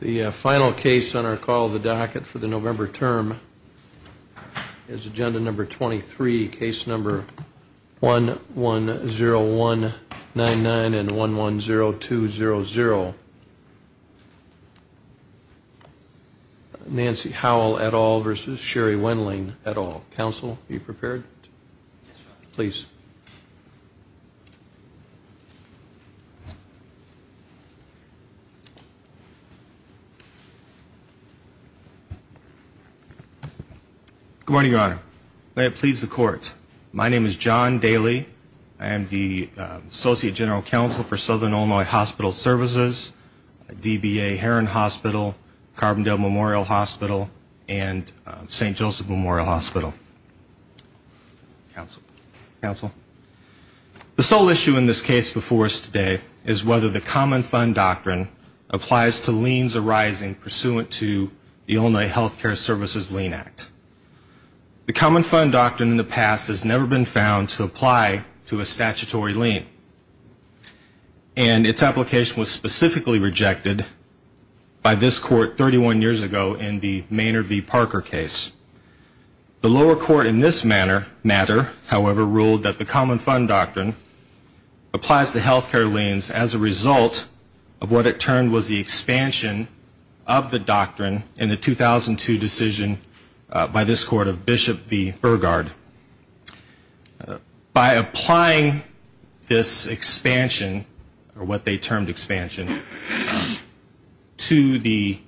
The final case on our call the docket for the November term is agenda number 23 case number 1 1 0 1 9 9 and 1 1 0 2 0 0 Nancy Howell at all versus Sherry Good morning, your honor. May it please the court. My name is John Daly. I am the associate general counsel for Southern Illinois Hospital Services, DBA Heron Hospital, Carbondale Memorial Hospital, and St. Joseph Memorial Hospital. The sole issue in this case before us today is whether the common fund doctrine applies to liens arising pursuant to the Illinois Health Care Services lien act. The common fund doctrine in the past has never been found to apply to a statutory lien and its application was specifically rejected by this court 31 years ago in the Maynard v. Parker case. The lower court in this matter, however, ruled that the common fund doctrine applies to health care liens as a result of what it termed was the expansion of the doctrine in the 2002 decision by this court of Bishop v. Burgard. By applying this expansion, or what they termed expansion, to the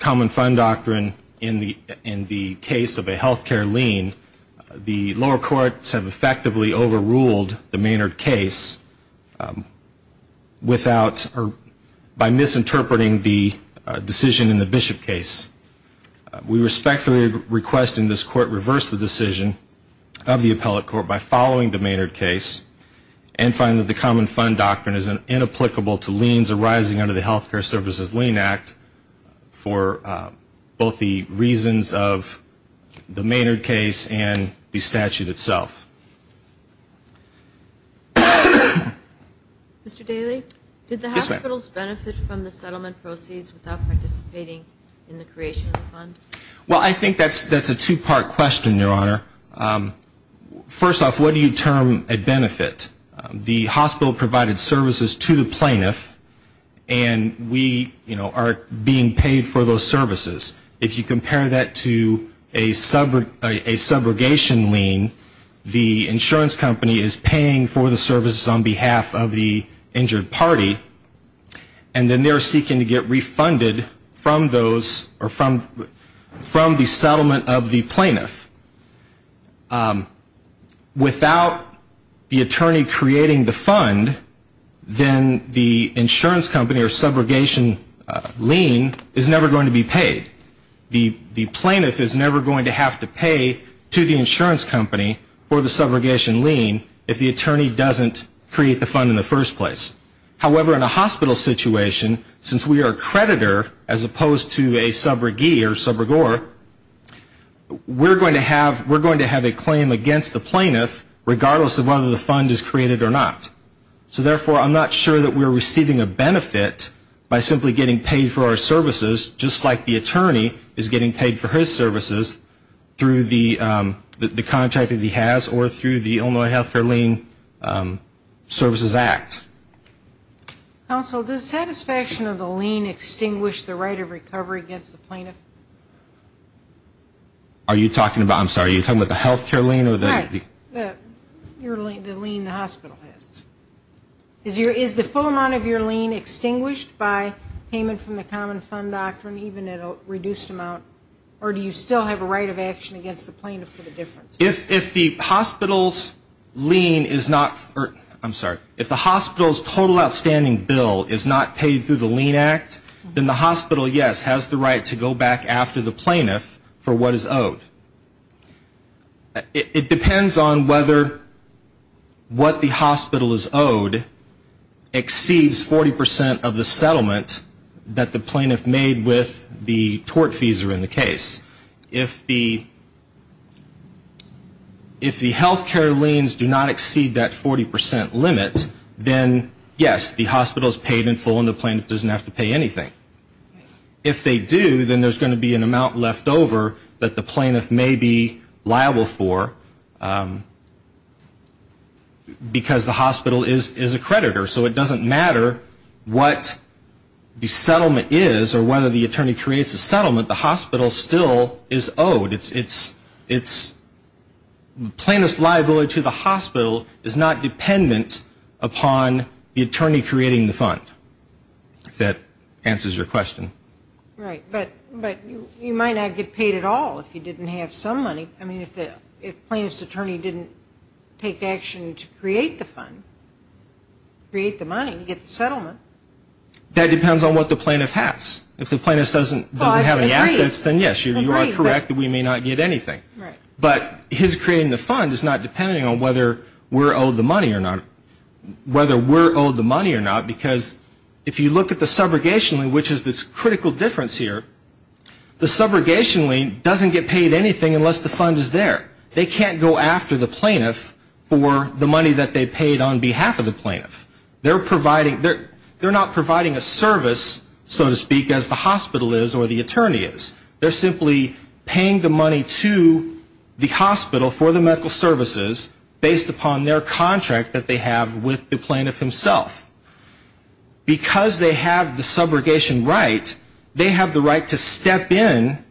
common fund doctrine, we have effectively overruled the Maynard case by misinterpreting the decision in the Bishop case. We respectfully request in this court reverse the decision of the appellate court by following the Maynard case and find that the common fund doctrine is inapplicable to liens arising under the health care services lien act for both the reasons of the Maynard case and the statute itself. Mr. Daly, did the hospitals benefit from the settlement proceeds without participating in the creation of the fund? Well, I think that's a two-part question, Your Honor. First off, what do you term a benefit? The hospital provided services to the plaintiff and we, you know, are being paid for those services. If you compare that to a subrogation lien, the insurance company is paying for the services on behalf of the injured party, and then they're seeking to get refunded from those or from the settlement of the plaintiff. Without the attorney creating the fund, then the insurance company or subrogation lien is never going to be paid. The plaintiff is never going to have to pay to the insurance company for the subrogation lien if the attorney doesn't create the fund in the first place. However, in a hospital situation, since we are a creditor as opposed to a subrogee or subrogor, we're going to have a claim against the plaintiff regardless of whether the fund is created or not. So therefore, I'm not sure that we're receiving a benefit by simply getting paid for our services just like the attorney is getting paid for his services through the contract that he has or through the Illinois Healthcare Lien Services Act. Counsel, does satisfaction of the lien extinguish the right of recovery against the plaintiff? Are you talking about, I'm sorry, are you talking about the health care lien or the Right, the lien the hospital has. Is the full amount of your lien extinguished by payment from the Common Fund Doctrine, even at a reduced amount, or do you still have a right of action against the plaintiff for the difference? If the hospital's lien is not, I'm sorry, if the hospital's total outstanding bill is not paid through the lien act, then the hospital, yes, has the right to go back after the plaintiff for what is owed. It depends on whether what the hospital is owed exceeds 40% of the settlement that the plaintiff made with the tort fees are in the case. If the health care liens do not exceed that 40% limit, then yes, the hospital is paid in full and the plaintiff doesn't have to pay anything. If they do, then there's going to be an amount left over that the plaintiff may be liable for because the hospital is a creditor. So it doesn't matter what the settlement is or whether the attorney creates a settlement, the hospital still is owed. Plaintiff's liability to the hospital is not dependent upon the attorney creating the fund, if that answers your question. Right, but you might not get paid at all if you didn't have some money. I mean, if the plaintiff's attorney didn't take action to create the fund, create the money, get the settlement. That depends on what the plaintiff has. If the plaintiff doesn't have any assets, then yes, you are correct that we may not get anything. But his creating the fund is not depending on whether we're owed the money or not. Because if you look at the subrogation lien, which is this critical difference here, the subrogation lien doesn't get paid anything unless the fund is there. They can't go after the plaintiff for the money that they paid on behalf of the plaintiff. They're not providing a service, so to speak, as the hospital is or the attorney is. They're simply paying the money to the hospital for the medical services based upon their contract that they have with the plaintiff himself. Because they have the subrogation right, they have the right to step in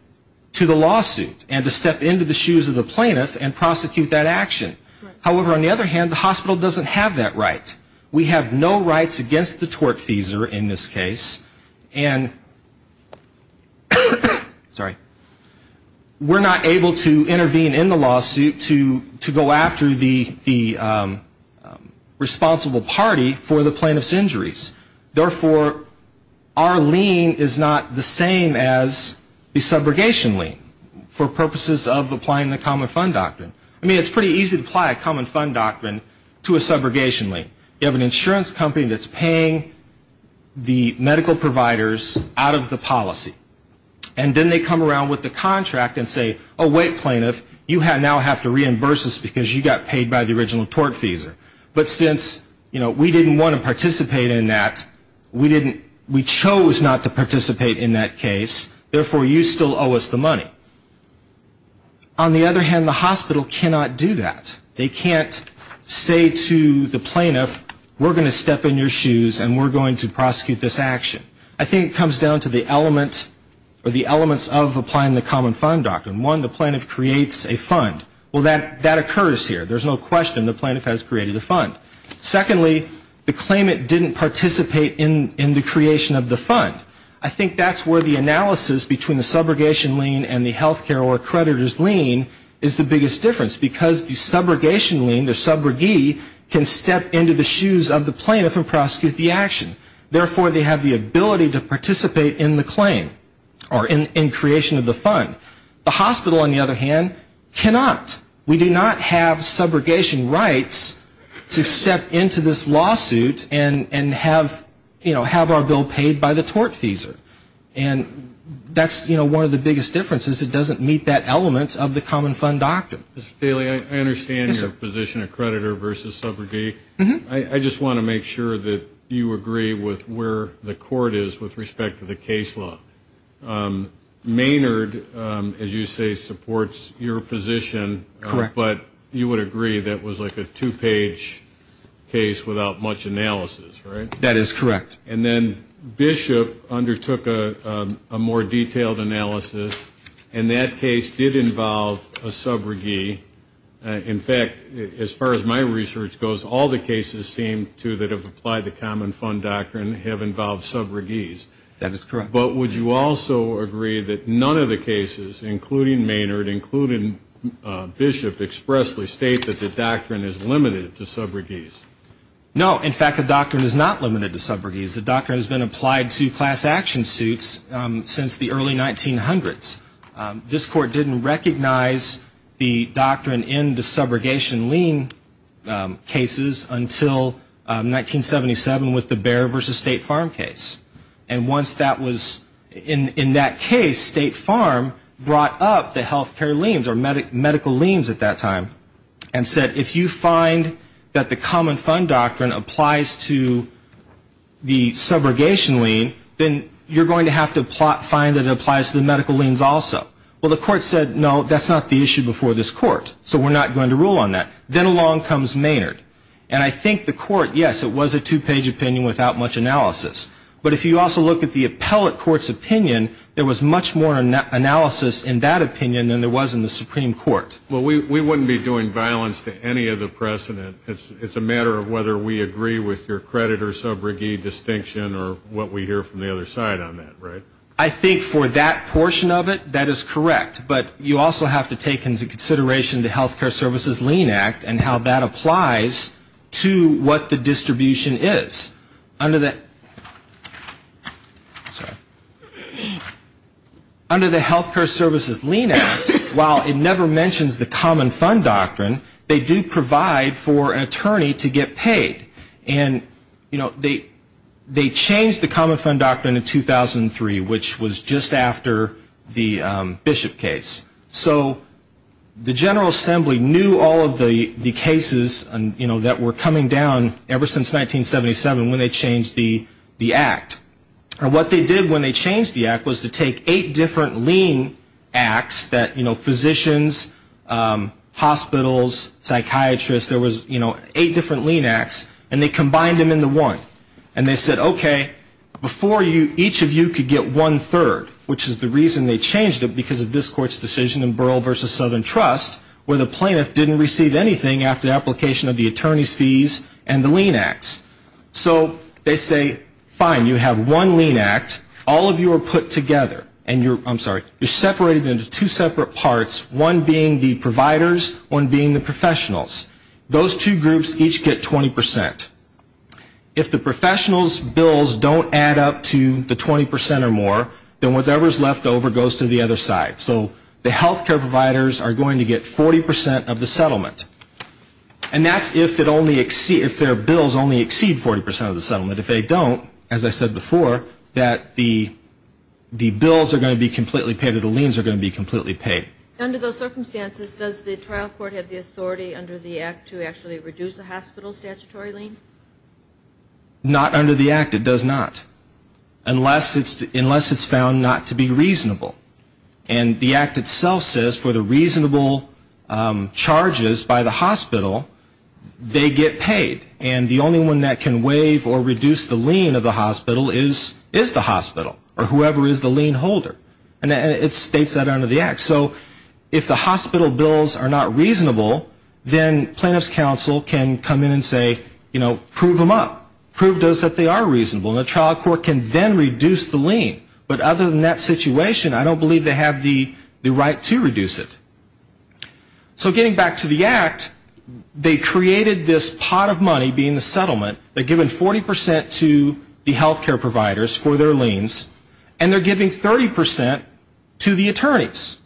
to the lawsuit and to step into the shoes of the plaintiff and prosecute that action. However, on the other hand, the hospital doesn't have that right. We have no rights against the tortfeasor in this case. And we're not able to intervene in the lawsuit to go after the responsible party for the plaintiff's injuries. Therefore, our lien is not the same as the subrogation lien for purposes of applying the common fund doctrine. I mean, it's pretty easy to apply a common fund doctrine to a subrogation lien. You have an insurance company that's paying the medical providers out of the policy. And then they come around with the contract and say, oh, wait, plaintiff, you now have to reimburse us because you got paid by the original tortfeasor. But since, you know, we didn't want to participate in that, we chose not to participate in that case. Therefore, you still owe us the money. On the other hand, the hospital cannot do that. They can't say to the plaintiff, we're going to step in your shoes and we're going to prosecute this action. I think it comes down to the element or the elements of applying the common fund doctrine. One, the plaintiff creates a fund. Well, that occurs here. There's no question the plaintiff has created a fund. Secondly, the claimant didn't participate in the creation of the fund. I think that's where the analysis between the subrogation lien and the health care or creditor's lien is the biggest difference. Because the subrogation lien, the subrogee, can step into the shoes of the plaintiff and prosecute the action. Therefore, they have the ability to participate in the claim or in creation of the fund. The hospital, on the other hand, cannot. We do not have subrogation rights to step into this lawsuit and have, you know, have our bill paid by the tortfeasor. And that's, you know, one of the biggest differences. It doesn't meet that element of the common fund doctrine. Mr. Daley, I understand your position of creditor versus subrogate. I just want to make sure that you agree with where the court is with respect to the case law. Maynard, as you say, supports your position. Correct. But you would agree that was like a two-page case without much analysis, right? That is correct. And then Bishop undertook a more detailed analysis. And that case did involve a subrogee. In fact, as far as my research goes, all the cases seem to that have applied the common fund doctrine have involved subrogees. That is correct. But would you also agree that none of the cases, including Maynard, including Bishop, expressly state that the doctrine is limited to subrogees? No. In fact, the doctrine is not limited to subrogees. The doctrine has been applied to class action suits since the early 1900s. This court didn't recognize the doctrine in the subrogation lien cases until 1977 with the Bexar v. State Farm case. And once that was in that case, State Farm brought up the health care liens or medical liens at that time and said, if you find that the common fund doctrine applies to the subrogation lien, then you're going to have to find that it applies to the medical liens also. Well, the court said, no, that's not the issue before this court. So we're not going to rule on that. Then along comes Maynard. And I think the court, yes, it was a two-page opinion without much analysis. But if you also look at the appellate court's opinion, there was much more analysis in that opinion than there was in the Supreme Court. Well, we wouldn't be doing violence to any of the precedent. It's a matter of whether we agree with your credit or subrogate distinction or what we hear from the other side on that, right? I think for that portion of it, that is correct. But you also have to take into consideration the Health Care Services Lien Act and how that applies to what the distribution is. Under the Health Care Services Lien Act, while it never mentions the common fund doctrine, they do provide for an attorney to get paid. And they changed the common fund doctrine in 2003, which was just after the Bishop case. So the General Assembly knew all of the cases that were coming down ever since 1977 when they changed the act. And what they did when they changed the act was to take eight different lien acts that, you know, physicians, hospitals, psychiatrists, there was, you know, eight different lien acts, and they combined them into one. And they said, okay, before each of you could get one-third, which is the reason they changed it, because of this court's decision in Burl v. Southern Trust, where the plaintiff didn't receive anything after the application of the attorney's fees and the lien acts. So they say, fine, you have one lien act, all of you are put together, and you're, I'm sorry, you're separated into two separate parts, one being the providers, one being the professionals. Those two groups each get 20%. If the professionals' bills don't add up to the 20% or more, then whatever is left over goes to the other side. So the health care providers are going to get 40% of the settlement. And that's if their bills only exceed 40% of the settlement. If they don't, as I said before, that the bills are going to be completely paid or the liens are going to be completely paid. Under those circumstances, does the trial court have the authority under the act to actually reduce the hospital statutory lien? Not under the act, it does not. Unless it's found not to be reasonable. And the act itself says for the reasonable charges by the hospital, they get paid. And the only one that can waive or reduce the lien of the hospital is the hospital or whoever is the lien holder. And it states that under the act. So if the hospital bills are not reasonable, then plaintiff's counsel can come in and say, you know, prove them up. Prove to us that they are reasonable. And the trial court can then reduce the lien. But other than that situation, I don't believe they have the right to reduce it. So getting back to the act, they created this pot of money being the settlement. They're given 40% to the health care providers for their liens. And they're giving 30% to the attorneys.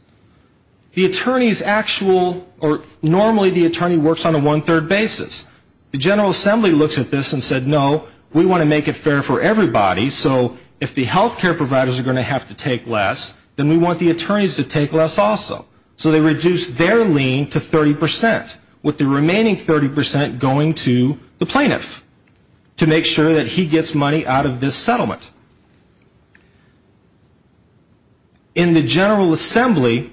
The attorneys actual or normally the attorney works on a one-third basis. The General Assembly looks at this and said, no, we want to make it fair for everybody. So if the health care providers are going to have to take less, then we want the attorneys to take less also. So they reduce their lien to 30% with the remaining 30% going to the plaintiff to make sure that he gets money out of this settlement. In the General Assembly,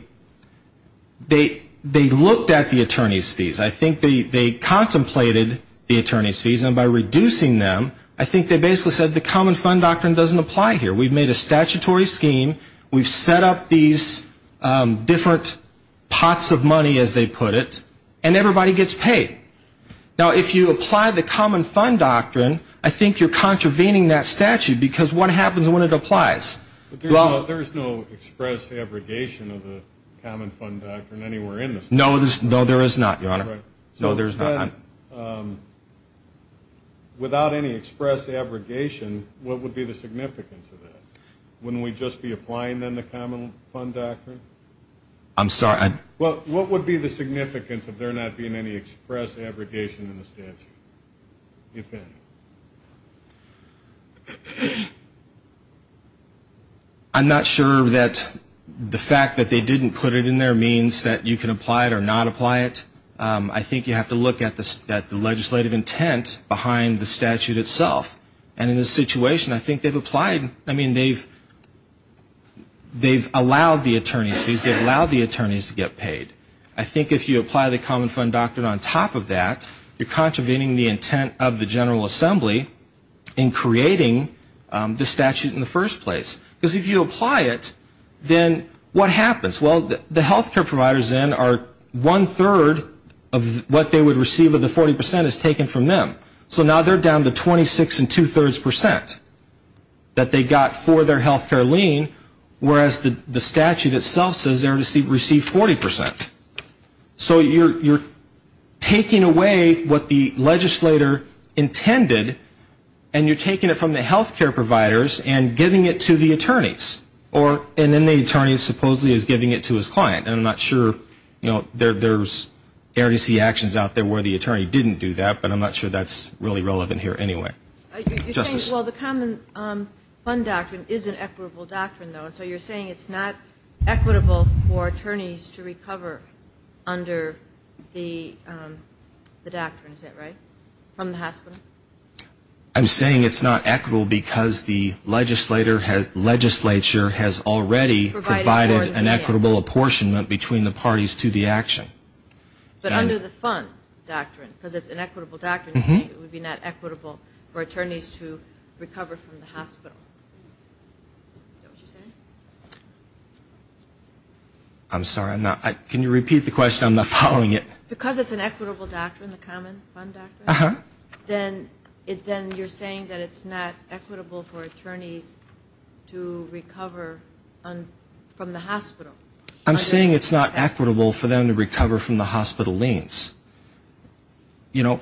they looked at the attorney's fees. I think they contemplated the attorney's fees. And by reducing them, I think they basically said the common fund doctrine doesn't apply here. We've made a statutory scheme. We've set up these different pots of money, as they put it. And everybody gets paid. Now, if you apply the common fund doctrine, I think you're contravening that statute. Because what happens when it applies? Well, there's no express abrogation of the common fund doctrine anywhere in this. No, there is not, Your Honor. No, there's not. Without any express abrogation, what would be the significance of that? Wouldn't we just be applying, then, the common fund doctrine? I'm sorry. What would be the significance of there not being any express abrogation in the statute, if any? I'm not sure that the fact that they didn't put it in there means that you can apply it or not apply it. I think you have to look at the legislative intent behind the statute itself. And in this situation, I think they've allowed the attorney's fees. They've allowed the attorneys to get paid. I think if you apply the common fund doctrine on top of that, you're contravening the intent of the General Assembly in creating the statute in the first place. Because if you apply it, then what happens? Well, the health care providers, then, are one-third of what they would receive of the 40 percent is taken from them. So now they're down to 26 and two-thirds percent that they got for their health care lien, whereas the statute itself says they received 40 percent. So you're taking away what the legislator intended, and you're taking it from the health care providers and giving it to the attorneys. Or an inmate attorney supposedly is giving it to his client. And I'm not sure, you know, there's RDC actions out there where the attorney didn't do that, but I'm not sure that's really relevant here anyway. You're saying, well, the common fund doctrine is an equitable doctrine, though. And so you're saying it's not equitable for attorneys to recover under the doctrine, is that right, from the hospital? I'm saying it's not equitable because the legislature has already provided an equitable apportionment between the parties to the action. But under the fund doctrine, because it's an equitable doctrine, you're saying it would be not equitable for attorneys to recover from the hospital. Is that what you're saying? I'm sorry, I'm not. Can you repeat the question? I'm not following it. Because it's an equitable doctrine, the common fund doctrine, then you're saying that it's not equitable for attorneys to recover from the hospital. I'm saying it's not equitable for them to recover from the hospital liens. You know,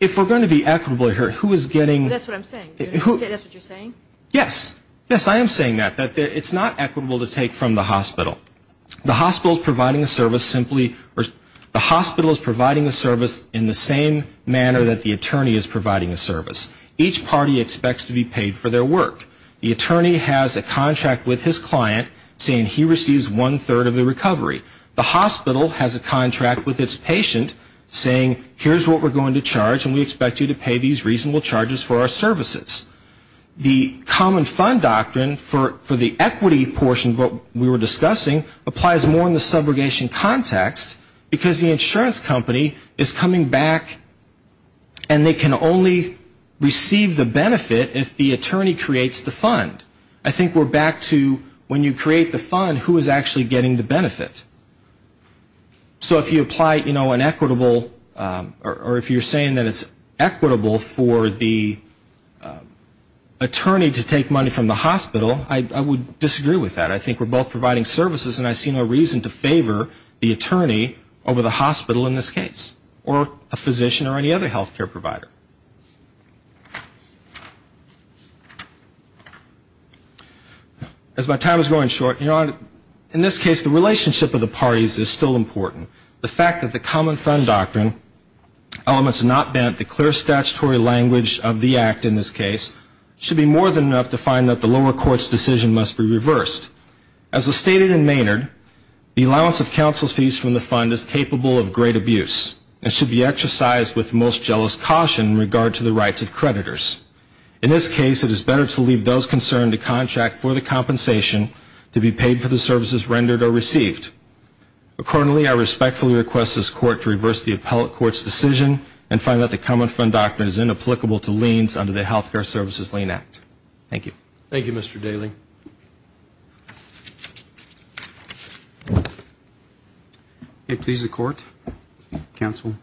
if we're going to be equitable here, who is getting... That's what I'm saying. Is that what you're saying? Yes. Yes, I am saying that, that it's not equitable to take from the hospital. The hospital's providing the service in the same manner that the attorney is providing the service. Each party expects to be paid for their work. The attorney has a contract with his client saying he receives one-third of the recovery. The hospital has a contract with its patient saying here's what we're going to charge and we expect you to pay these reasonable charges for our services. The common fund doctrine for the equity portion of what we were discussing applies more in the insurance company is coming back and they can only receive the benefit if the attorney creates the fund. I think we're back to when you create the fund, who is actually getting the benefit? So if you apply, you know, an equitable or if you're saying that it's equitable for the attorney to take money from the hospital, I would disagree with that. I think we're both providing services and I think there's no reason to favor the attorney over the hospital in this case or a physician or any other health care provider. As my time is going short, in this case the relationship of the parties is still important. The fact that the common fund doctrine elements not bent the clear statutory language of the act in this case should be more than enough to find that the lower court's decision must be reversed. As was stated in Maynard, the allowance of counsel's fees from the fund is capable of great abuse and should be exercised with most jealous caution in regard to the rights of creditors. In this case, it is better to leave those concerned to contract for the compensation to be paid for the services rendered or received. Accordingly, I respectfully request this court to reverse the appellate court's decision and find that the common fund doctrine is inapplicable to liens under the Health Care Services Lien Act. Thank you. Thank you, Mr. Daly. May it please the court, counsel.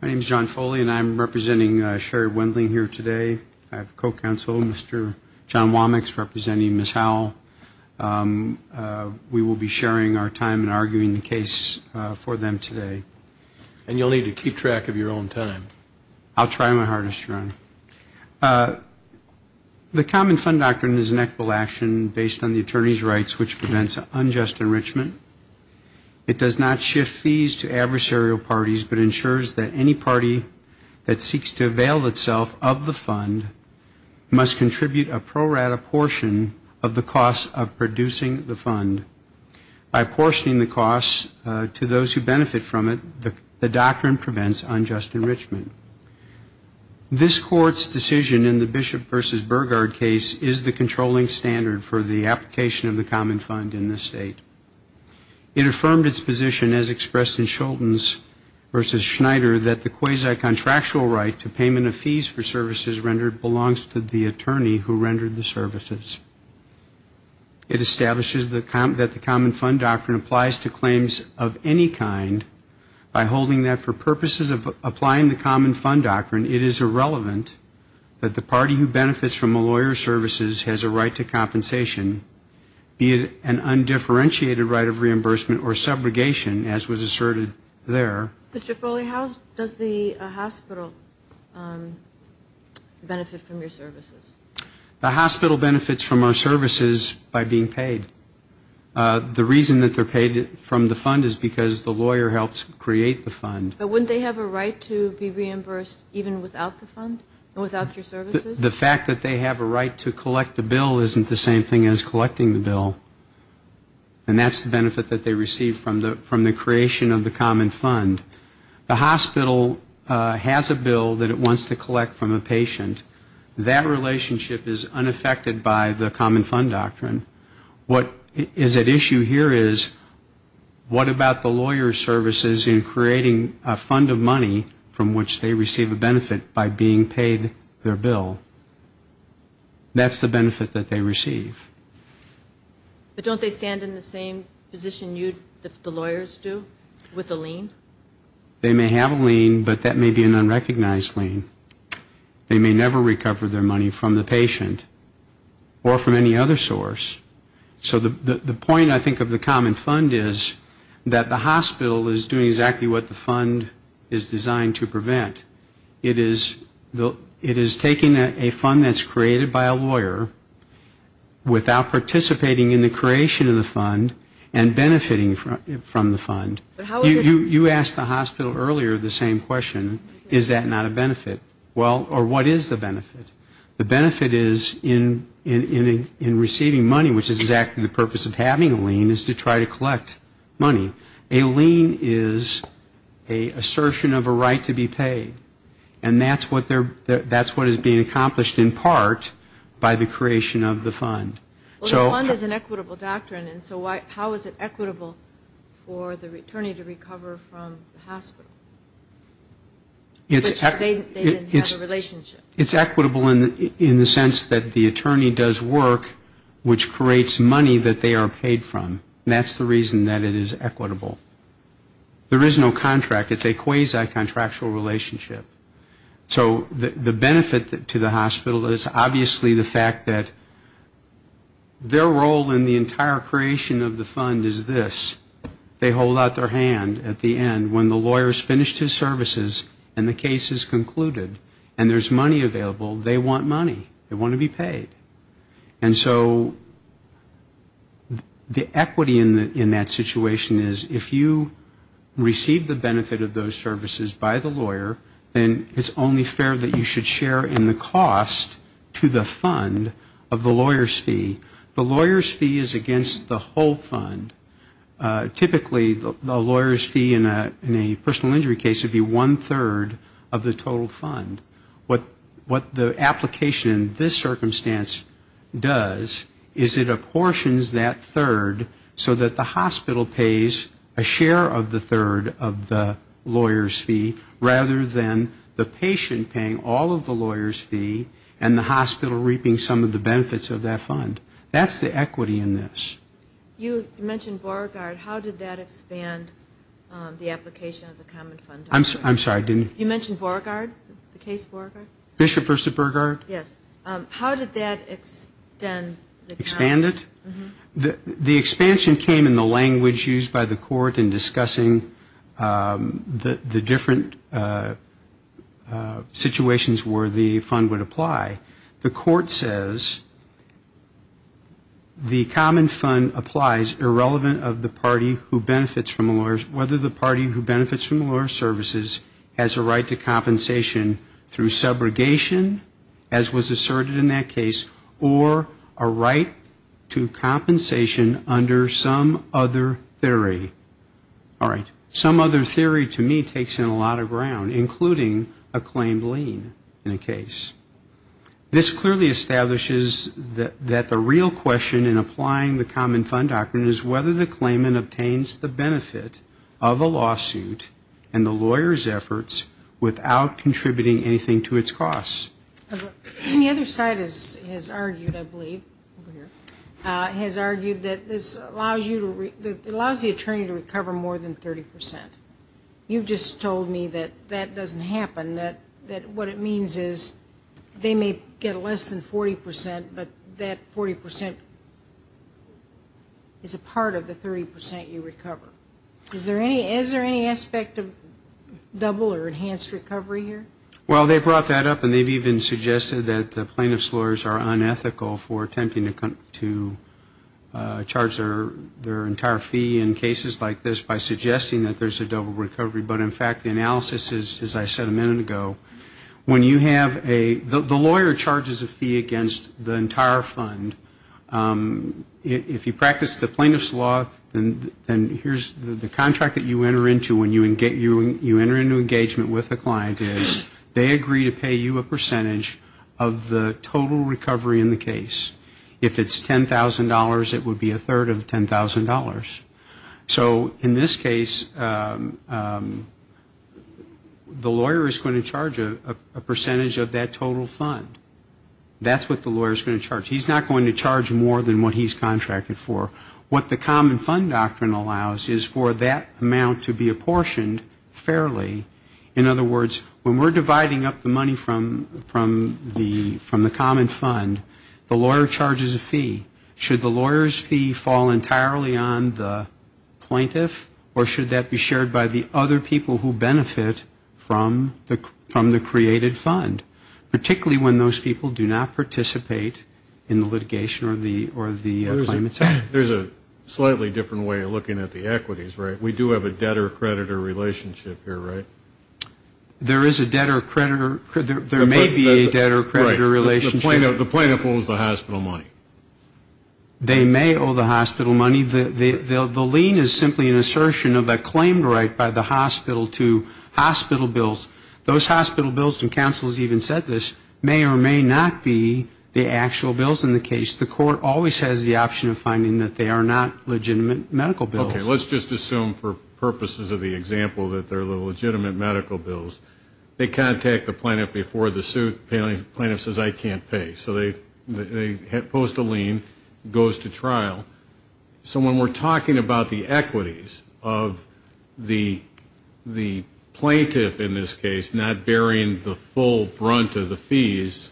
My name is John Foley and I'm representing Sherry Wendling here today. I have co-counsel, Mr. John Womack, representing Ms. Howell. We will be sharing our time in arguing the case for them today. The common fund doctrine is an equitable action based on the attorney's rights which prevents unjust enrichment. It does not shift fees to adversarial parties but ensures that any party that seeks to avail itself of the fund must contribute a pro rata portion of the cost of producing the fund. By portioning the cost to those who benefit from it, the doctrine prevents unjust enrichment. This court's decision in the Bishop v. Burgard case is the controlling standard for the application of the common fund in this state. It affirmed its position as expressed in Shultz v. Schneider that the quasi-contractual right to payment of fees for services rendered belongs to the attorney who rendered the services. It establishes that the common fund doctrine applies to claims of any kind by holding that for purposes of applying the common fund doctrine, it is irrelevant that the party who benefits from a lawyer's services has a right to compensation, be it an undifferentiated right of reimbursement or subrogation as was asserted there. Mr. Foley, how does the hospital benefit from your services? The hospital benefits from our services by being paid. The reason that they're paid from the fund is because the lawyer helps create the fund. But wouldn't they have a right to be reimbursed even without the fund, without your services? The fact that they have a right to collect the bill isn't the same thing as collecting the bill. And that's the benefit that they receive from the creation of the common fund. The hospital has a bill that it wants to collect from a patient. That relationship is unaffected by the common fund doctrine. What is at issue here is what about the lawyer's services in creating a fund of money from which they receive a benefit by being paid their bill? That's the benefit that they receive. But don't they stand in the same position you, the lawyers do, with a lien? They may have a lien, but that may be an unrecognized lien. They may never recover their money from the patient or from any other source. So the point, I think, of the common fund is that the hospital is doing exactly what the fund is designed to prevent. It is taking a fund that's created by a lawyer without participating in the creation of the fund and benefiting from the fund. You asked the hospital earlier the same question. Is that not a benefit? Well, or what is the benefit? The benefit is in receiving money, which is exactly the purpose of having a lien, is to try to collect money. A lien is an assertion of a right to be paid. And that's what they're, that's what is being accomplished in part by the creation of the fund. Well, the fund is an equitable doctrine, so how is it equitable for the attorney to recover from the hospital? They then have a relationship. It's equitable in the sense that the attorney does work, which creates money that they are paid from. And that's the reason that it is equitable. There is no contract. It's a quasi-contractual relationship. So the benefit to the hospital is obviously the fact that their role in the entire creation of the fund is this. They hold out their hand at the end when the lawyer's finished his services and the case is concluded. And there's money available. They want money. They want to be paid. And so the equity in that situation is if you receive the benefit of those services by the lawyer, then it's only fair that you should share in the cost to the fund of the lawyer's fee. The lawyer's fee is against the whole fund. Typically, the lawyer's fee in a personal injury case would be one-third of the total fund. What the application in this circumstance does is it apportions that third so that the hospital pays a share of the third of the lawyer's fee rather than the patient paying all of the lawyer's fee and the hospital reaping some of the benefits of that fund. That's the equity in this. You mentioned Beauregard. How did that expand the application of the Common Fund? I'm sorry, didn't you? You mentioned Beauregard, the case Beauregard? Bishop v. Beauregard. Yes. How did that extend the Common Fund? The Common Fund applies irrelevant of the party who benefits from the lawyer's services has a right to compensation through subrogation, as was asserted in that case, or a right to compensation under some other theory. All right. Some other theory to me takes in a lot of ground, including a claimed lien in a case. This clearly establishes that the real question in applying the Common Fund doctrine is whether the claimant obtains the benefit of a lawsuit and the lawyer's efforts without contributing anything to its costs. And the other side has argued, I believe, has argued that this allows the attorney to recover more than 30 percent. You've just told me that that doesn't happen, that what it means is they may get less than 40 percent, but that 40 percent is a part of the 30 percent you recover. Is there any aspect of double or enhanced recovery here? Well, they brought that up, and they've even suggested that the plaintiff's lawyers are unethical for attempting to charge their entire fee in cases like this by suggesting that there's a double recovery. But in fact, the analysis is, as I said a minute ago, when you have a, the lawyer charges a fee against the entire fund. If you practice the plaintiff's law, then here's the contract that you enter into when you enter into engagement with a client is they agree to pay you a percentage of the total recovery in the case. If it's $10,000, it would be a third of $10,000. So in this case, the lawyer is going to charge a percentage of that total fund. That's what the lawyer's going to charge. He's not going to charge more than what he's contracted for. What the common fund doctrine allows is for that amount to be apportioned fairly. In other words, when we're dividing up the money from the common fund, the lawyer's going to charge a percentage of that and the lawyer charges a fee. Should the lawyer's fee fall entirely on the plaintiff or should that be shared by the other people who benefit from the created fund? Particularly when those people do not participate in the litigation or the claimant's actions. There's a slightly different way of looking at the equities, right? We do have a debtor-creditor relationship here, right? There is a debtor-creditor, there may be a debtor-creditor relationship. The plaintiff owes the hospital money. They may owe the hospital money. The lien is simply an assertion of a claimed right by the hospital to hospital bills. Those hospital bills, and counsel has even said this, may or may not be the actual bills in the case. The court always has the option of finding that they are not legitimate medical bills. Okay, let's just assume for purposes of the example that they're the legitimate medical bills. They contact the plaintiff before the suit, the plaintiff says, I can't pay. So they post a lien, goes to trial. So when we're talking about the equities of the plaintiff in this case, not bearing the full brunt of the fees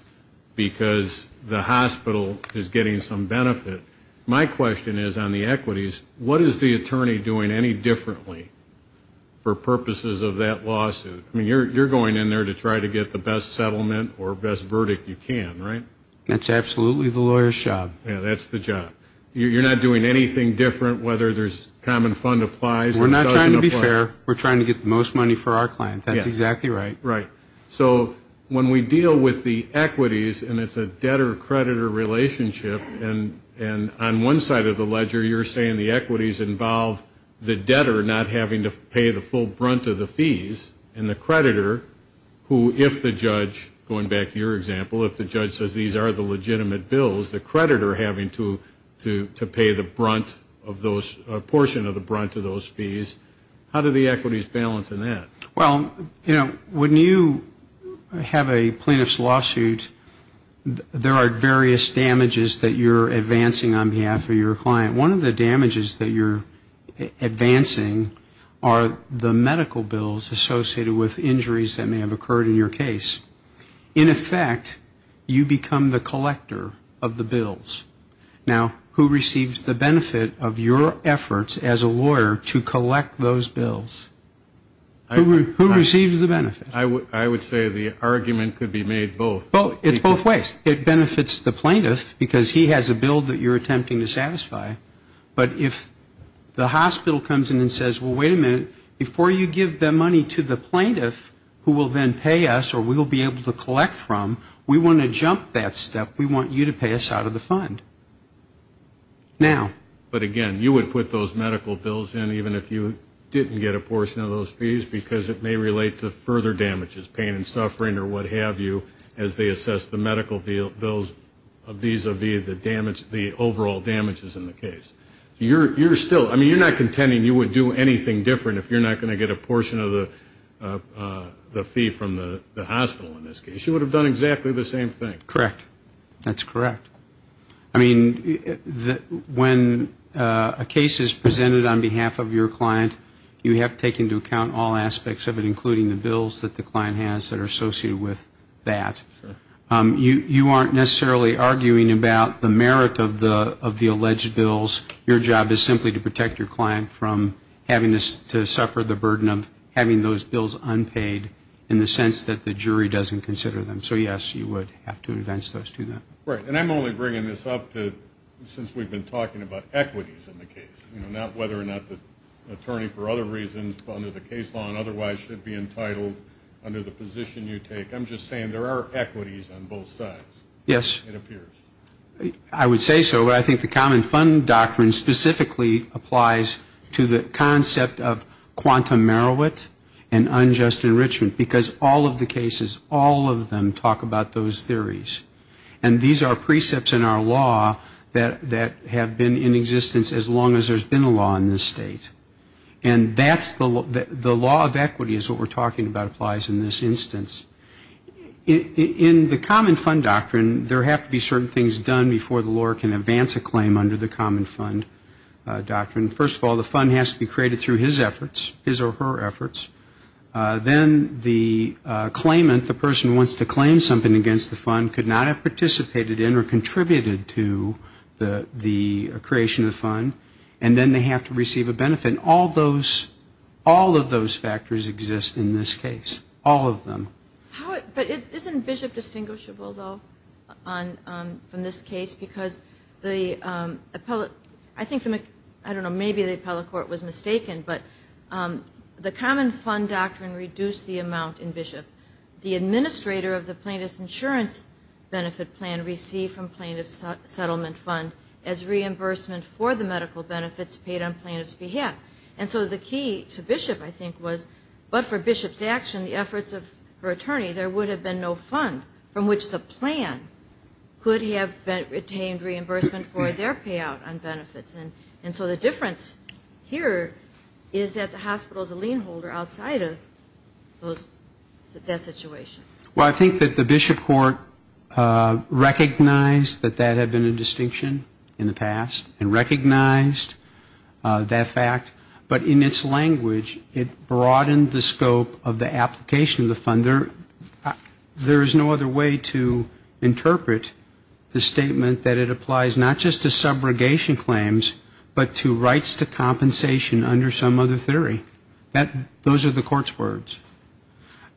because the hospital is getting some benefit, my question is on the equities, what is the attorney doing any differently for purposes of that lawsuit? I mean, you're going in there to try to get the best settlement or best verdict you can, right? That's absolutely the lawyer's job. Yeah, that's the job. You're not doing anything different whether there's common fund applies or doesn't apply. We're not trying to be fair. We're trying to get the most money for our client. That's exactly right. Right. So when we deal with the equities and it's a debtor-creditor relationship, and on one side of the ledger you're saying the equities involve the debtor not having to pay the full brunt of the fees and the creditor who, if the judge, going back to your example, if the judge says these are the legitimate bills, the creditor having to pay the brunt of those, a portion of the brunt of those fees, how do the equities balance in that? Well, you know, when you have a plaintiff's lawsuit, there are various damages that you're advancing on behalf of your client. One of the damages that you're advancing are the medical bills associated with injuries that may have occurred in your case. In effect, you become the collector of the bills. Now, who receives the benefit of your efforts as a lawyer to collect those bills? Who receives the benefit? I would say the argument could be made both. It's both ways. It benefits the plaintiff because he has a bill that you're attempting to satisfy. But if the hospital comes in and says, well, wait a minute, before you give the money to the plaintiff who will then pay us the money that we're trying to find, now. But again, you would put those medical bills in even if you didn't get a portion of those fees because it may relate to further damages, pain and suffering or what have you, as they assess the medical bills vis-a-vis the overall damages in the case. You're still, I mean, you're not contending you would do anything different if you're not going to get a portion of the fee from the hospital in this case. You would have done exactly the same thing. Correct. That's correct. I mean, when a case is presented on behalf of your client, you have to take into account all aspects of it, including the bills that the client has that are associated with that. You aren't necessarily arguing about the merit of the alleged bills. Your job is simply to protect your client from having to suffer the burden of having those bills unpaid in the sense that the jury doesn't consider that. So yes, you would have to advance those to them. Right. And I'm only bringing this up since we've been talking about equities in the case. Not whether or not the attorney for other reasons under the case law and otherwise should be entitled under the position you take. I'm just saying there are equities on both sides. Yes. I would say so. Well, I think the common fund doctrine specifically applies to the concept of quantum merit and unjust enrichment. Because all of the cases, all of them talk about those theories. And these are precepts in our law that have been in existence as long as there's been a law in this state. And that's the law of equity is what we're talking about applies in this instance. In the common fund doctrine, there have to be certain things done before the lawyer can advance a claim under the common fund doctrine. First of all, the fund has to be created through his efforts, his or her efforts. Then the claimant, the person who wants to claim something against the fund could not have participated in or contributed to the creation of the fund. And then they have to receive a benefit. And all of those factors exist in this case, all of them. But isn't Bishop distinguishable, though, from this case? Because I think maybe the appellate court was mistaken, but the common fund doctrine reduced the amount in Bishop. The administrator of the plaintiff's insurance benefit plan received from plaintiff's settlement fund as reimbursement for the medical benefits paid on plaintiff's behalf. And so the key to Bishop, I think, was but for Bishop's action, the efforts of her attorney, there would have been no fund from which the plan could have retained reimbursement for their payout on benefits. And so the difference here is that the hospital is a lien holder outside of those, that situation. Well, I think that the Bishop court recognized that that had been a distinction in the past and recognized that there was a difference in the past, that fact. But in its language, it broadened the scope of the application of the fund. There is no other way to interpret the statement that it applies not just to subrogation claims, but to rights to compensation under some other theory. Those are the court's words.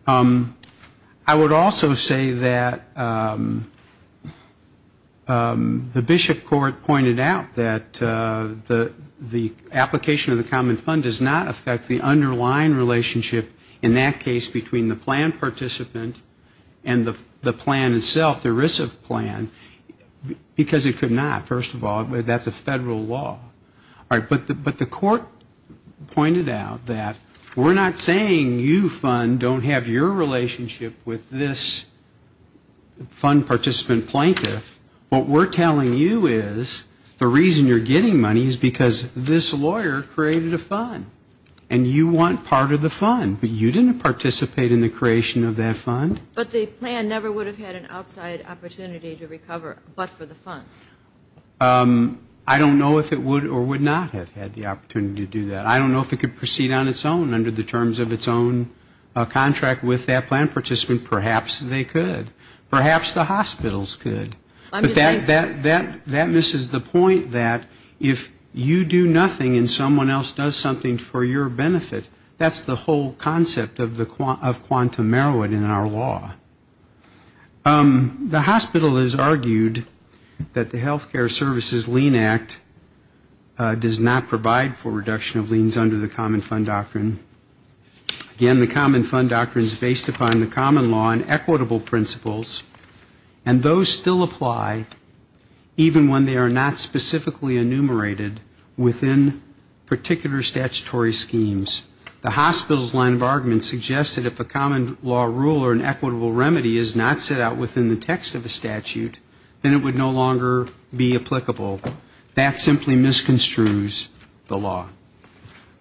I would also say that the Bishop court pointed out that the application of the common fund does not affect the underlying relationship in that case between the plan participant and the plan itself, the ERISA plan, because it could not. First of all, that's a federal law. But the court pointed out that we're not saying you fund don't have your relationship with this fund participant plaintiff. What we're telling you is the reason you're getting money is because this lawyer created a fund. And you want part of the fund, but you didn't participate in the creation of that fund. But the plan never would have had an outside opportunity to recover but for the fund. I don't know if it would or would not have had the opportunity to do that. I don't know if it could proceed on its own under the terms of its own contract with that plan participant. Perhaps they could. Perhaps the hospitals could. But that misses the point that if you do nothing and someone else does something for your benefit, that's the whole concept of quantum merit in our law. The hospital has argued that the healthcare services lien act does not provide for reduction of liens under the common fund doctrine. Again, the common fund doctrine is based upon the common law and equitable principles. And those still apply even when they are not specifically enumerated within particular statutory schemes. The hospital's line of argument suggests that if a common law rule or an equitable remedy is not set out within the text of the statute, then it would no longer be applicable. That simply misconstrues the law.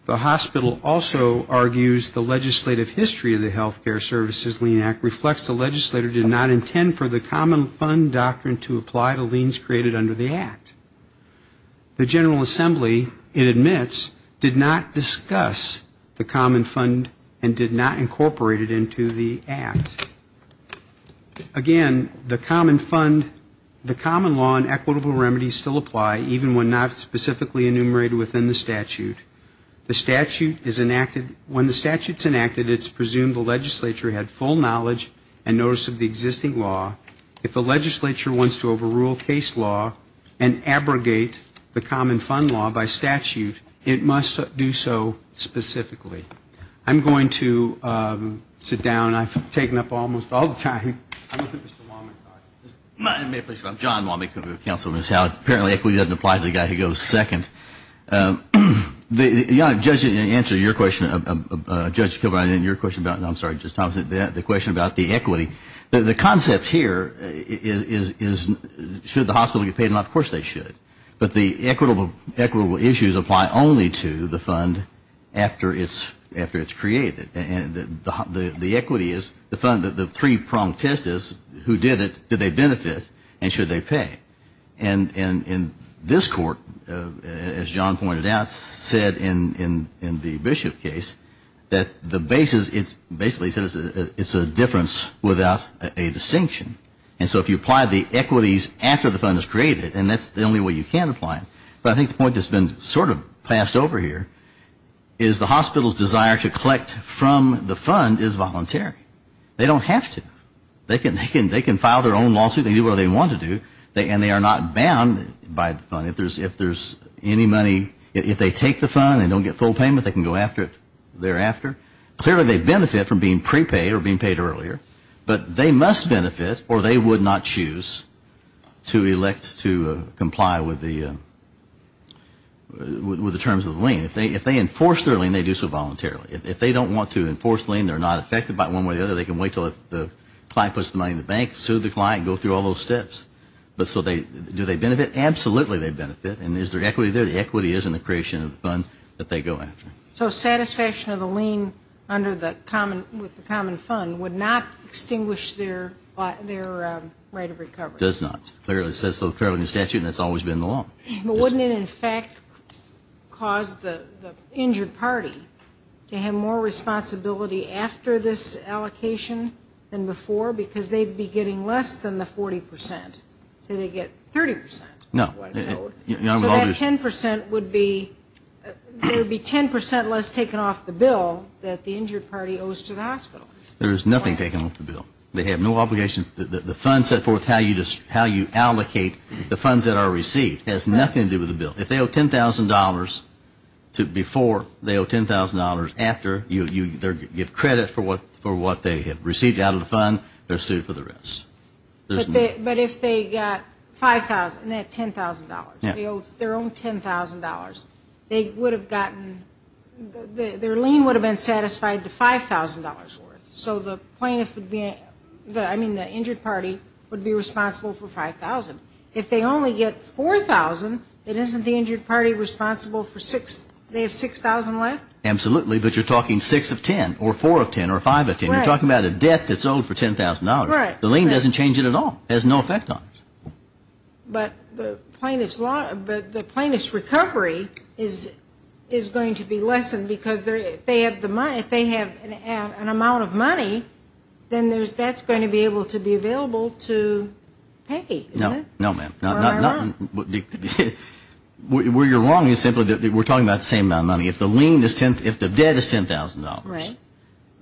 The hospital also argues the legislative history of the healthcare services lien act reflects the legislator did not intend for the common fund doctrine to apply to liens created under the act. The General Assembly, it admits, did not discuss the common fund and did not incorporate it into the act. Again, the common fund, the common law and equitable remedies still apply even when not specifically enumerated within the statute. The statute is enacted, when the statute's enacted, it's presumed the legislature had full knowledge and notice of the common fund law by statute, it must do so specifically. I'm going to sit down. I've taken up almost all the time. I'm John Wommack of the Council of Ministers. Apparently equity doesn't apply to the guy who goes second. In answer to your question, Judge Kilbride, and your question about, I'm sorry, Justice Thomas, the question about the equity, the concept here is should the hospital get paid? Of course they should. But the equitable issues apply only to the fund after it's created. And the equity is the fund, the three pronged test is who did it, did they benefit, and should they pay? And in this court, as John pointed out, said in the Bishop case, that the basis, it's basically said it's a difference without a distinction. And so if you apply the equities after the fund is created, and that's the only way you can apply them. But I think the point that's been sort of passed over here is the hospital's desire to collect from the fund is voluntary. They don't have to. They can file their own lawsuit, they can do what they want to do, and they are not bound by the fund. If there's any money, if they take the fund and don't get full payment, they can go after it thereafter. Clearly they benefit from being prepaid or being paid earlier. But they must benefit or they would not choose to elect to comply with the terms of the lien. If they enforce their lien, they do so voluntarily. If they don't want to enforce the lien, they're not affected by one way or the other, they can wait until the client puts the money in the bank, sue the client, go through all those steps. But do they benefit? Absolutely they benefit. And is there equity there? The equity is in the creation of the fund that they go after. So satisfaction of the lien with the common fund would not extinguish their right of recovery? It does not. It clearly says so in the statute and it's always been the law. But wouldn't it in fact cause the injured party to have more responsibility after this allocation than before? Because they'd be getting less than the 40 percent. Say they get 30 percent. No. So that 10 percent would be 10 percent less taken off the bill that the injured party owes to the hospital. There is nothing taken off the bill. They have no obligation. The fund set forth how you allocate the funds that are received has nothing to do with the bill. If they owe $10,000 before, they owe $10,000 after. You give credit for what they have received out of the fund. They're sued for the rest. But if they got $5,000, not $10,000, they owe their own $10,000, they would have gotten, their lien would have been satisfied to $5,000 worth. So the plaintiff would be, I mean the injured party would be responsible for $5,000. If they only get $4,000, isn't the injured party responsible for, they have $6,000 left? Absolutely, but you're talking 6 of 10 or 4 of 10 or 5 of 10. You're talking about a debt that's owed for $10,000. The lien doesn't change it at all. It has no effect on it. But the plaintiff's recovery is going to be lessened because if they have an amount of money, then that's going to be able to be available to pay. No, ma'am. Where you're wrong is simply that we're talking about the same amount of money. If the debt is $10,000,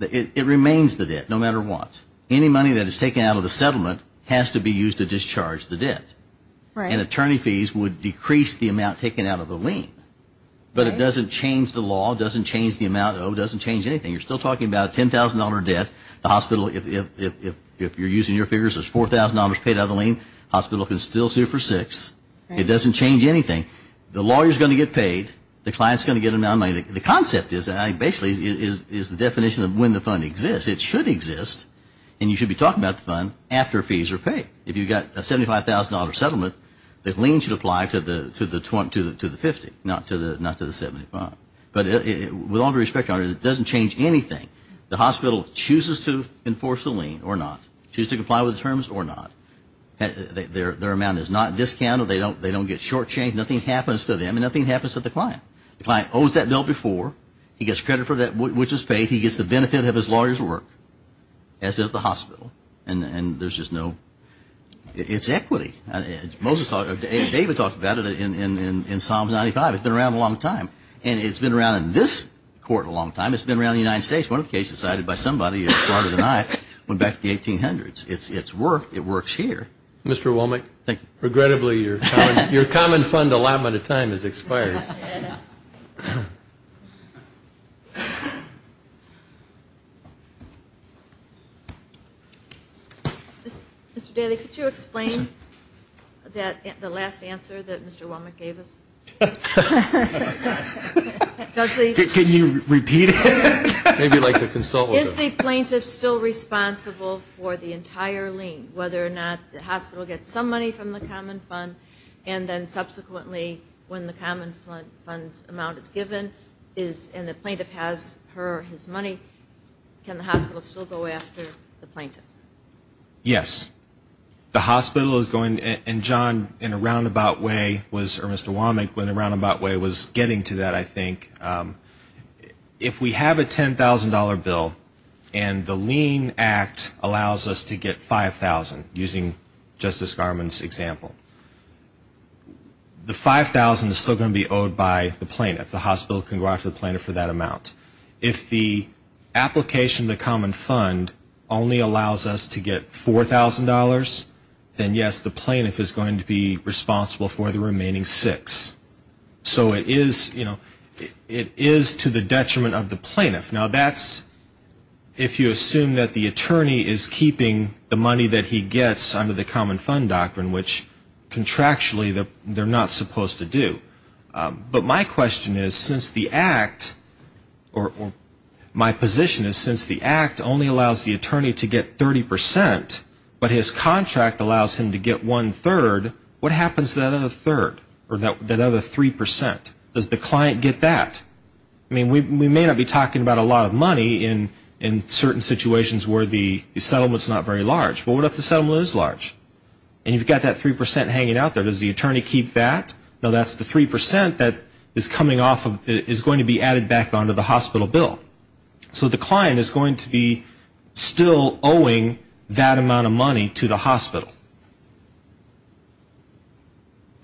it remains the debt no matter what. Any money that is taken out of the settlement has to be used to discharge the debt. And attorney fees would decrease the amount taken out of the lien. But it doesn't change the law, doesn't change the amount owed, doesn't change anything. You're still talking about a $10,000 debt. If you're using your figures as $4,000 paid out of the lien, the hospital can still sue for 6. It doesn't change anything. The lawyer is going to get paid. The client is going to get an amount of money. The concept basically is the definition of when the fund exists. It should exist, and you should be talking about the fund after fees are paid. If you've got a $75,000 settlement, the lien should apply to the 50, not to the 75. But with all due respect, it doesn't change anything. The hospital chooses to enforce the lien or not, chooses to comply with the terms or not. Their amount is not discounted. They don't get shortchanged. Nothing happens to them, and nothing happens to the client. The client owes that bill before. He gets credit for that which is paid. He gets the benefit of his lawyer's work, as does the hospital. And there's just no – it's equity. David talked about it in Psalm 95. It's been around a long time. And it's been around in this court a long time. It's been around in the United States. One of the cases cited by somebody who is smarter than I went back to the 1800s. It's worked. It works here. Mr. Womack? Regrettably, your common fund allotment of time has expired. Mr. Daley, could you explain the last answer that Mr. Womack gave us? Can you repeat it? Maybe like a consultant. Is the plaintiff still responsible for the entire lien, whether or not the hospital gets some money from the common fund, and then subsequently when the common fund amount is given and the plaintiff has her or his money, can the hospital still go after the plaintiff? Yes. The hospital is going – and John, in a roundabout way, or Mr. Womack in a roundabout way was getting to that, I think. If we have a $10,000 bill and the lien act allows us to get $5,000, using Justice Garmon's example, the $5,000 is still going to be owed by the plaintiff. The hospital can go after the plaintiff for that amount. If the application of the common fund only allows us to get $4,000, then, yes, the plaintiff is going to be responsible for the remaining six. So it is to the detriment of the plaintiff. Now, that's if you assume that the attorney is keeping the money that he gets under the common fund doctrine, which contractually they're not supposed to do. But my question is, since the act – or my position is, since the act only allows the attorney to get 30%, but his contract allows him to get one-third, what happens to that other third, or that other 3%? Does the client get that? I mean, we may not be talking about a lot of money in certain situations where the settlement is not very large, but what if the settlement is large? And you've got that 3% hanging out there. Does the attorney keep that? No, that's the 3% that is coming off of – is going to be added back onto the hospital bill. So the client is going to be still owing that amount of money to the hospital.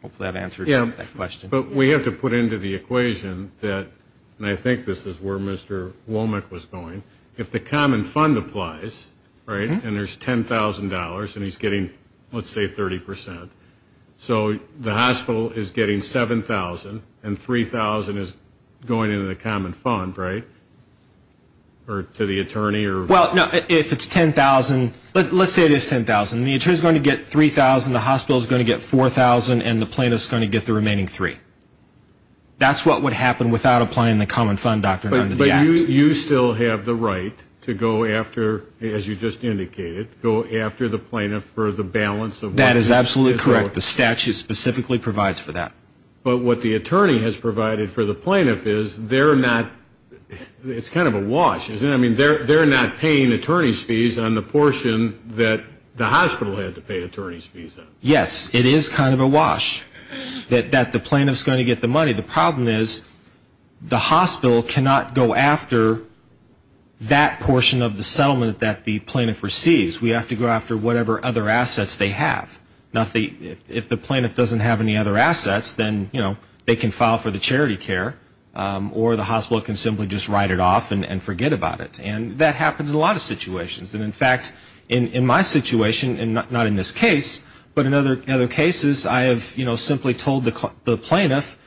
Hopefully that answers that question. But we have to put into the equation that – and I think this is where Mr. Womack was going – if the common fund applies, right, and there's $10,000 and he's getting, let's say, 30%, so the hospital is getting $7,000 and $3,000 is going into the common fund, right, or to the attorney? Well, no, if it's $10,000 – let's say it is $10,000. The attorney is going to get $3,000, the hospital is going to get $4,000, and the plaintiff is going to get the remaining $3,000. That's what would happen without applying the common fund doctrine under the act. But you still have the right to go after, as you just indicated, go after the plaintiff for the balance. That is absolutely correct. The statute specifically provides for that. But what the attorney has provided for the plaintiff is they're not – it's kind of a wash, isn't it? I mean, they're not paying attorney's fees on the portion that the hospital had to pay attorney's fees on. Yes, it is kind of a wash that the plaintiff is going to get the money. The problem is the hospital cannot go after that portion of the settlement that the plaintiff receives. We have to go after whatever other assets they have. If the plaintiff doesn't have any other assets, then they can file for the charity care or the hospital can simply just write it off and forget about it. And that happens in a lot of situations. And, in fact, in my situation, and not in this case, but in other cases, I have simply told the plaintiff,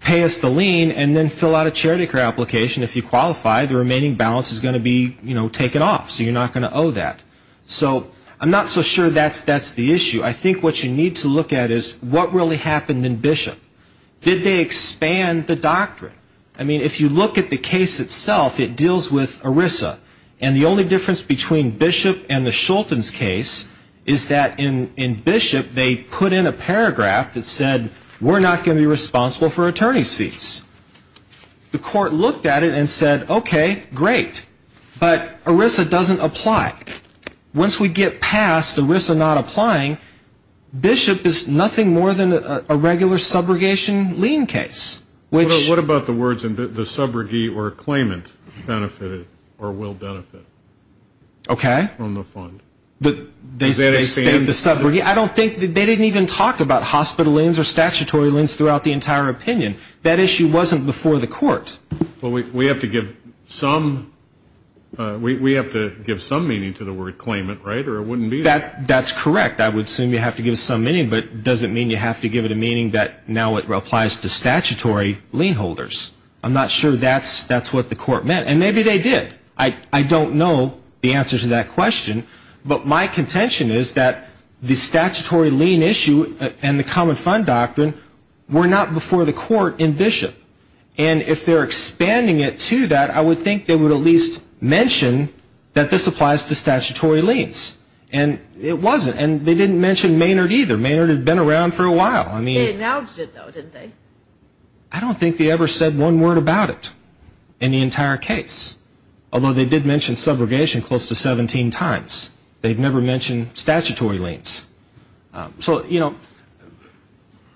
pay us the lien and then fill out a charity care application. If you qualify, the remaining balance is going to be taken off. So you're not going to owe that. So I'm not so sure that's the issue. I think what you need to look at is what really happened in Bishop. Did they expand the doctrine? I mean, if you look at the case itself, it deals with ERISA. And the only difference between Bishop and the Schulten's case is that in Bishop, they put in a paragraph that said, we're not going to be responsible for attorney's fees. The court looked at it and said, okay, great. But ERISA doesn't apply. Once we get past ERISA not applying, Bishop is nothing more than a regular subrogation lien case. What about the words the subrogate or claimant benefited or will benefit from the fund? Did they extend the subrogate? I don't think they didn't even talk about hospital liens or statutory liens throughout the entire opinion. That issue wasn't before the court. Well, we have to give some meaning to the word claimant, right, or it wouldn't be there. That's correct. I would assume you have to give some meaning, but does it mean you have to give it a meaning that now it applies to statutory lien holders? I'm not sure that's what the court meant. And maybe they did. I don't know the answer to that question. But my contention is that the statutory lien issue and the common fund doctrine were not before the court in Bishop. And if they're expanding it to that, I would think they would at least mention that this applies to statutory liens. And it wasn't. And they didn't mention Maynard either. Maynard had been around for a while. They acknowledged it, though, didn't they? I don't think they ever said one word about it in the entire case, although they did mention subrogation close to 17 times. They'd never mentioned statutory liens. So, you know,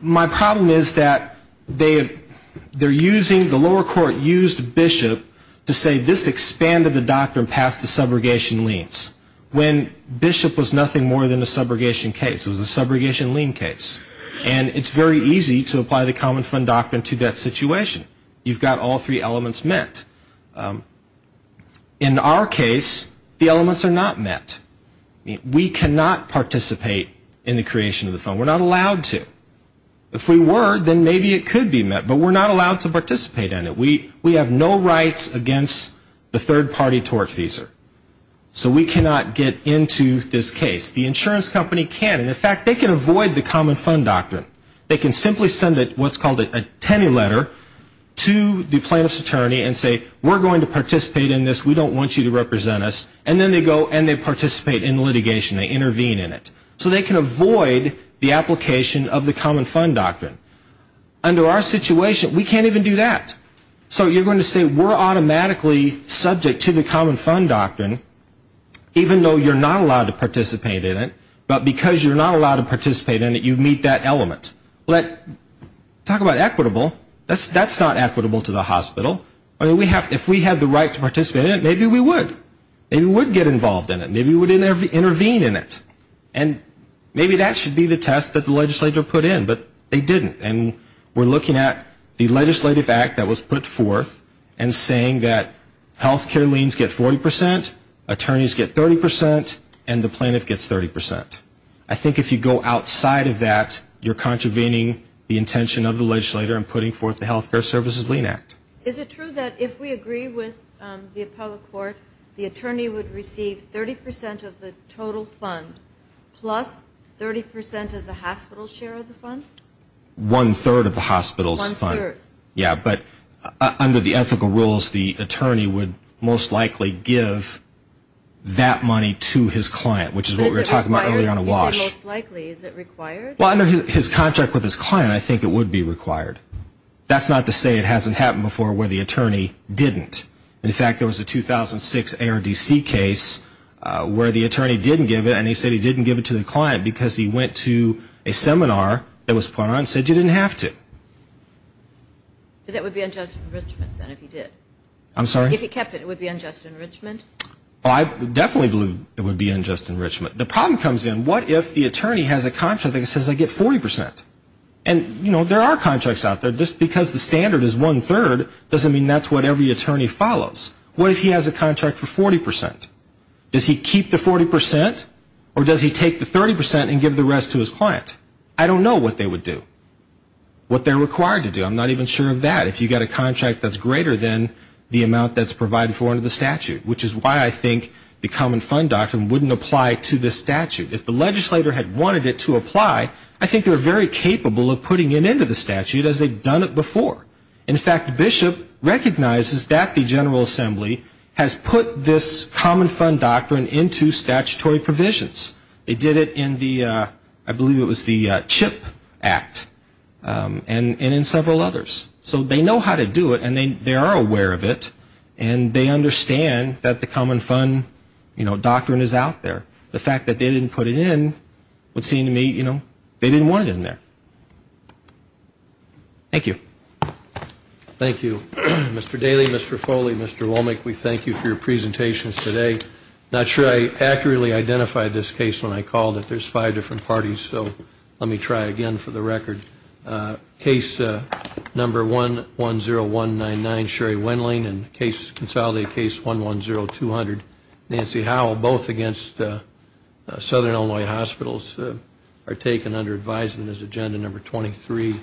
my problem is that they're using the lower court used Bishop to say this expanded the doctrine past the subrogation liens when Bishop was nothing more than a subrogation case. It was a subrogation lien case. And it's very easy to apply the common fund doctrine to that situation. You've got all three elements met. In our case, the elements are not met. We cannot participate in the creation of the fund. We're not allowed to. If we were, then maybe it could be met. But we're not allowed to participate in it. We have no rights against the third-party tort fees. So we cannot get into this case. The insurance company can. And, in fact, they can avoid the common fund doctrine. They can simply send what's called a tenny letter to the plaintiff's attorney and say we're going to participate in this. We don't want you to represent us. And then they go and they participate in the litigation. They intervene in it. So they can avoid the application of the common fund doctrine. Under our situation, we can't even do that. So you're going to say we're automatically subject to the common fund doctrine, even though you're not allowed to participate in it. But because you're not allowed to participate in it, you meet that element. Talk about equitable. That's not equitable to the hospital. If we had the right to participate in it, maybe we would. Maybe we would get involved in it. Maybe we would intervene in it. And maybe that should be the test that the legislature put in. But they didn't. And we're looking at the legislative act that was put forth and saying that health care liens get 40 percent, attorneys get 30 percent, and the plaintiff gets 30 percent. I think if you go outside of that, you're contravening the intention of the legislator and putting forth the Health Care Services Lien Act. Is it true that if we agree with the appellate court, the attorney would receive 30 percent of the total fund plus 30 percent of the hospital's share of the fund? One-third of the hospital's fund. One-third. Yeah, but under the ethical rules, the attorney would most likely give that money to his client, which is what we were talking about earlier on a wash. Is it required? You said most likely. Is it required? Well, under his contract with his client, I think it would be required. That's not to say it hasn't happened before where the attorney didn't. In fact, there was a 2006 ARDC case where the attorney didn't give it, and he said he didn't give it to the client because he went to a seminar that was put on and said you didn't have to. But that would be unjust enrichment then if he did. I'm sorry? If he kept it, it would be unjust enrichment. Well, I definitely believe it would be unjust enrichment. The problem comes in, what if the attorney has a contract that says I get 40 percent? And, you know, there are contracts out there. Just because the standard is one-third doesn't mean that's what every attorney follows. What if he has a contract for 40 percent? Does he keep the 40 percent, or does he take the 30 percent and give the rest to his client? I don't know what they would do, what they're required to do. I'm not even sure of that. If you've got a contract that's greater than the amount that's provided for under the statute, which is why I think the common fund doctrine wouldn't apply to this statute. If the legislator had wanted it to apply, I think they're very capable of putting it into the statute as they've done it before. In fact, Bishop recognizes that the General Assembly has put this common fund doctrine into statutory provisions. They did it in the, I believe it was the CHIP Act, and in several others. So they know how to do it, and they are aware of it, and they understand that the common fund, you know, doctrine is out there. The fact that they didn't put it in would seem to me, you know, they didn't want it in there. Thank you. Thank you. Mr. Daly, Mr. Foley, Mr. Womack, we thank you for your presentations today. I'm not sure I accurately identified this case when I called it. There's five different parties, so let me try again for the record. Case number 110199, Sherry Wendling, and case, consolidated case 110200, Nancy Howell, both against Southern Illinois Hospitals, are taken under advisement as agenda number 23.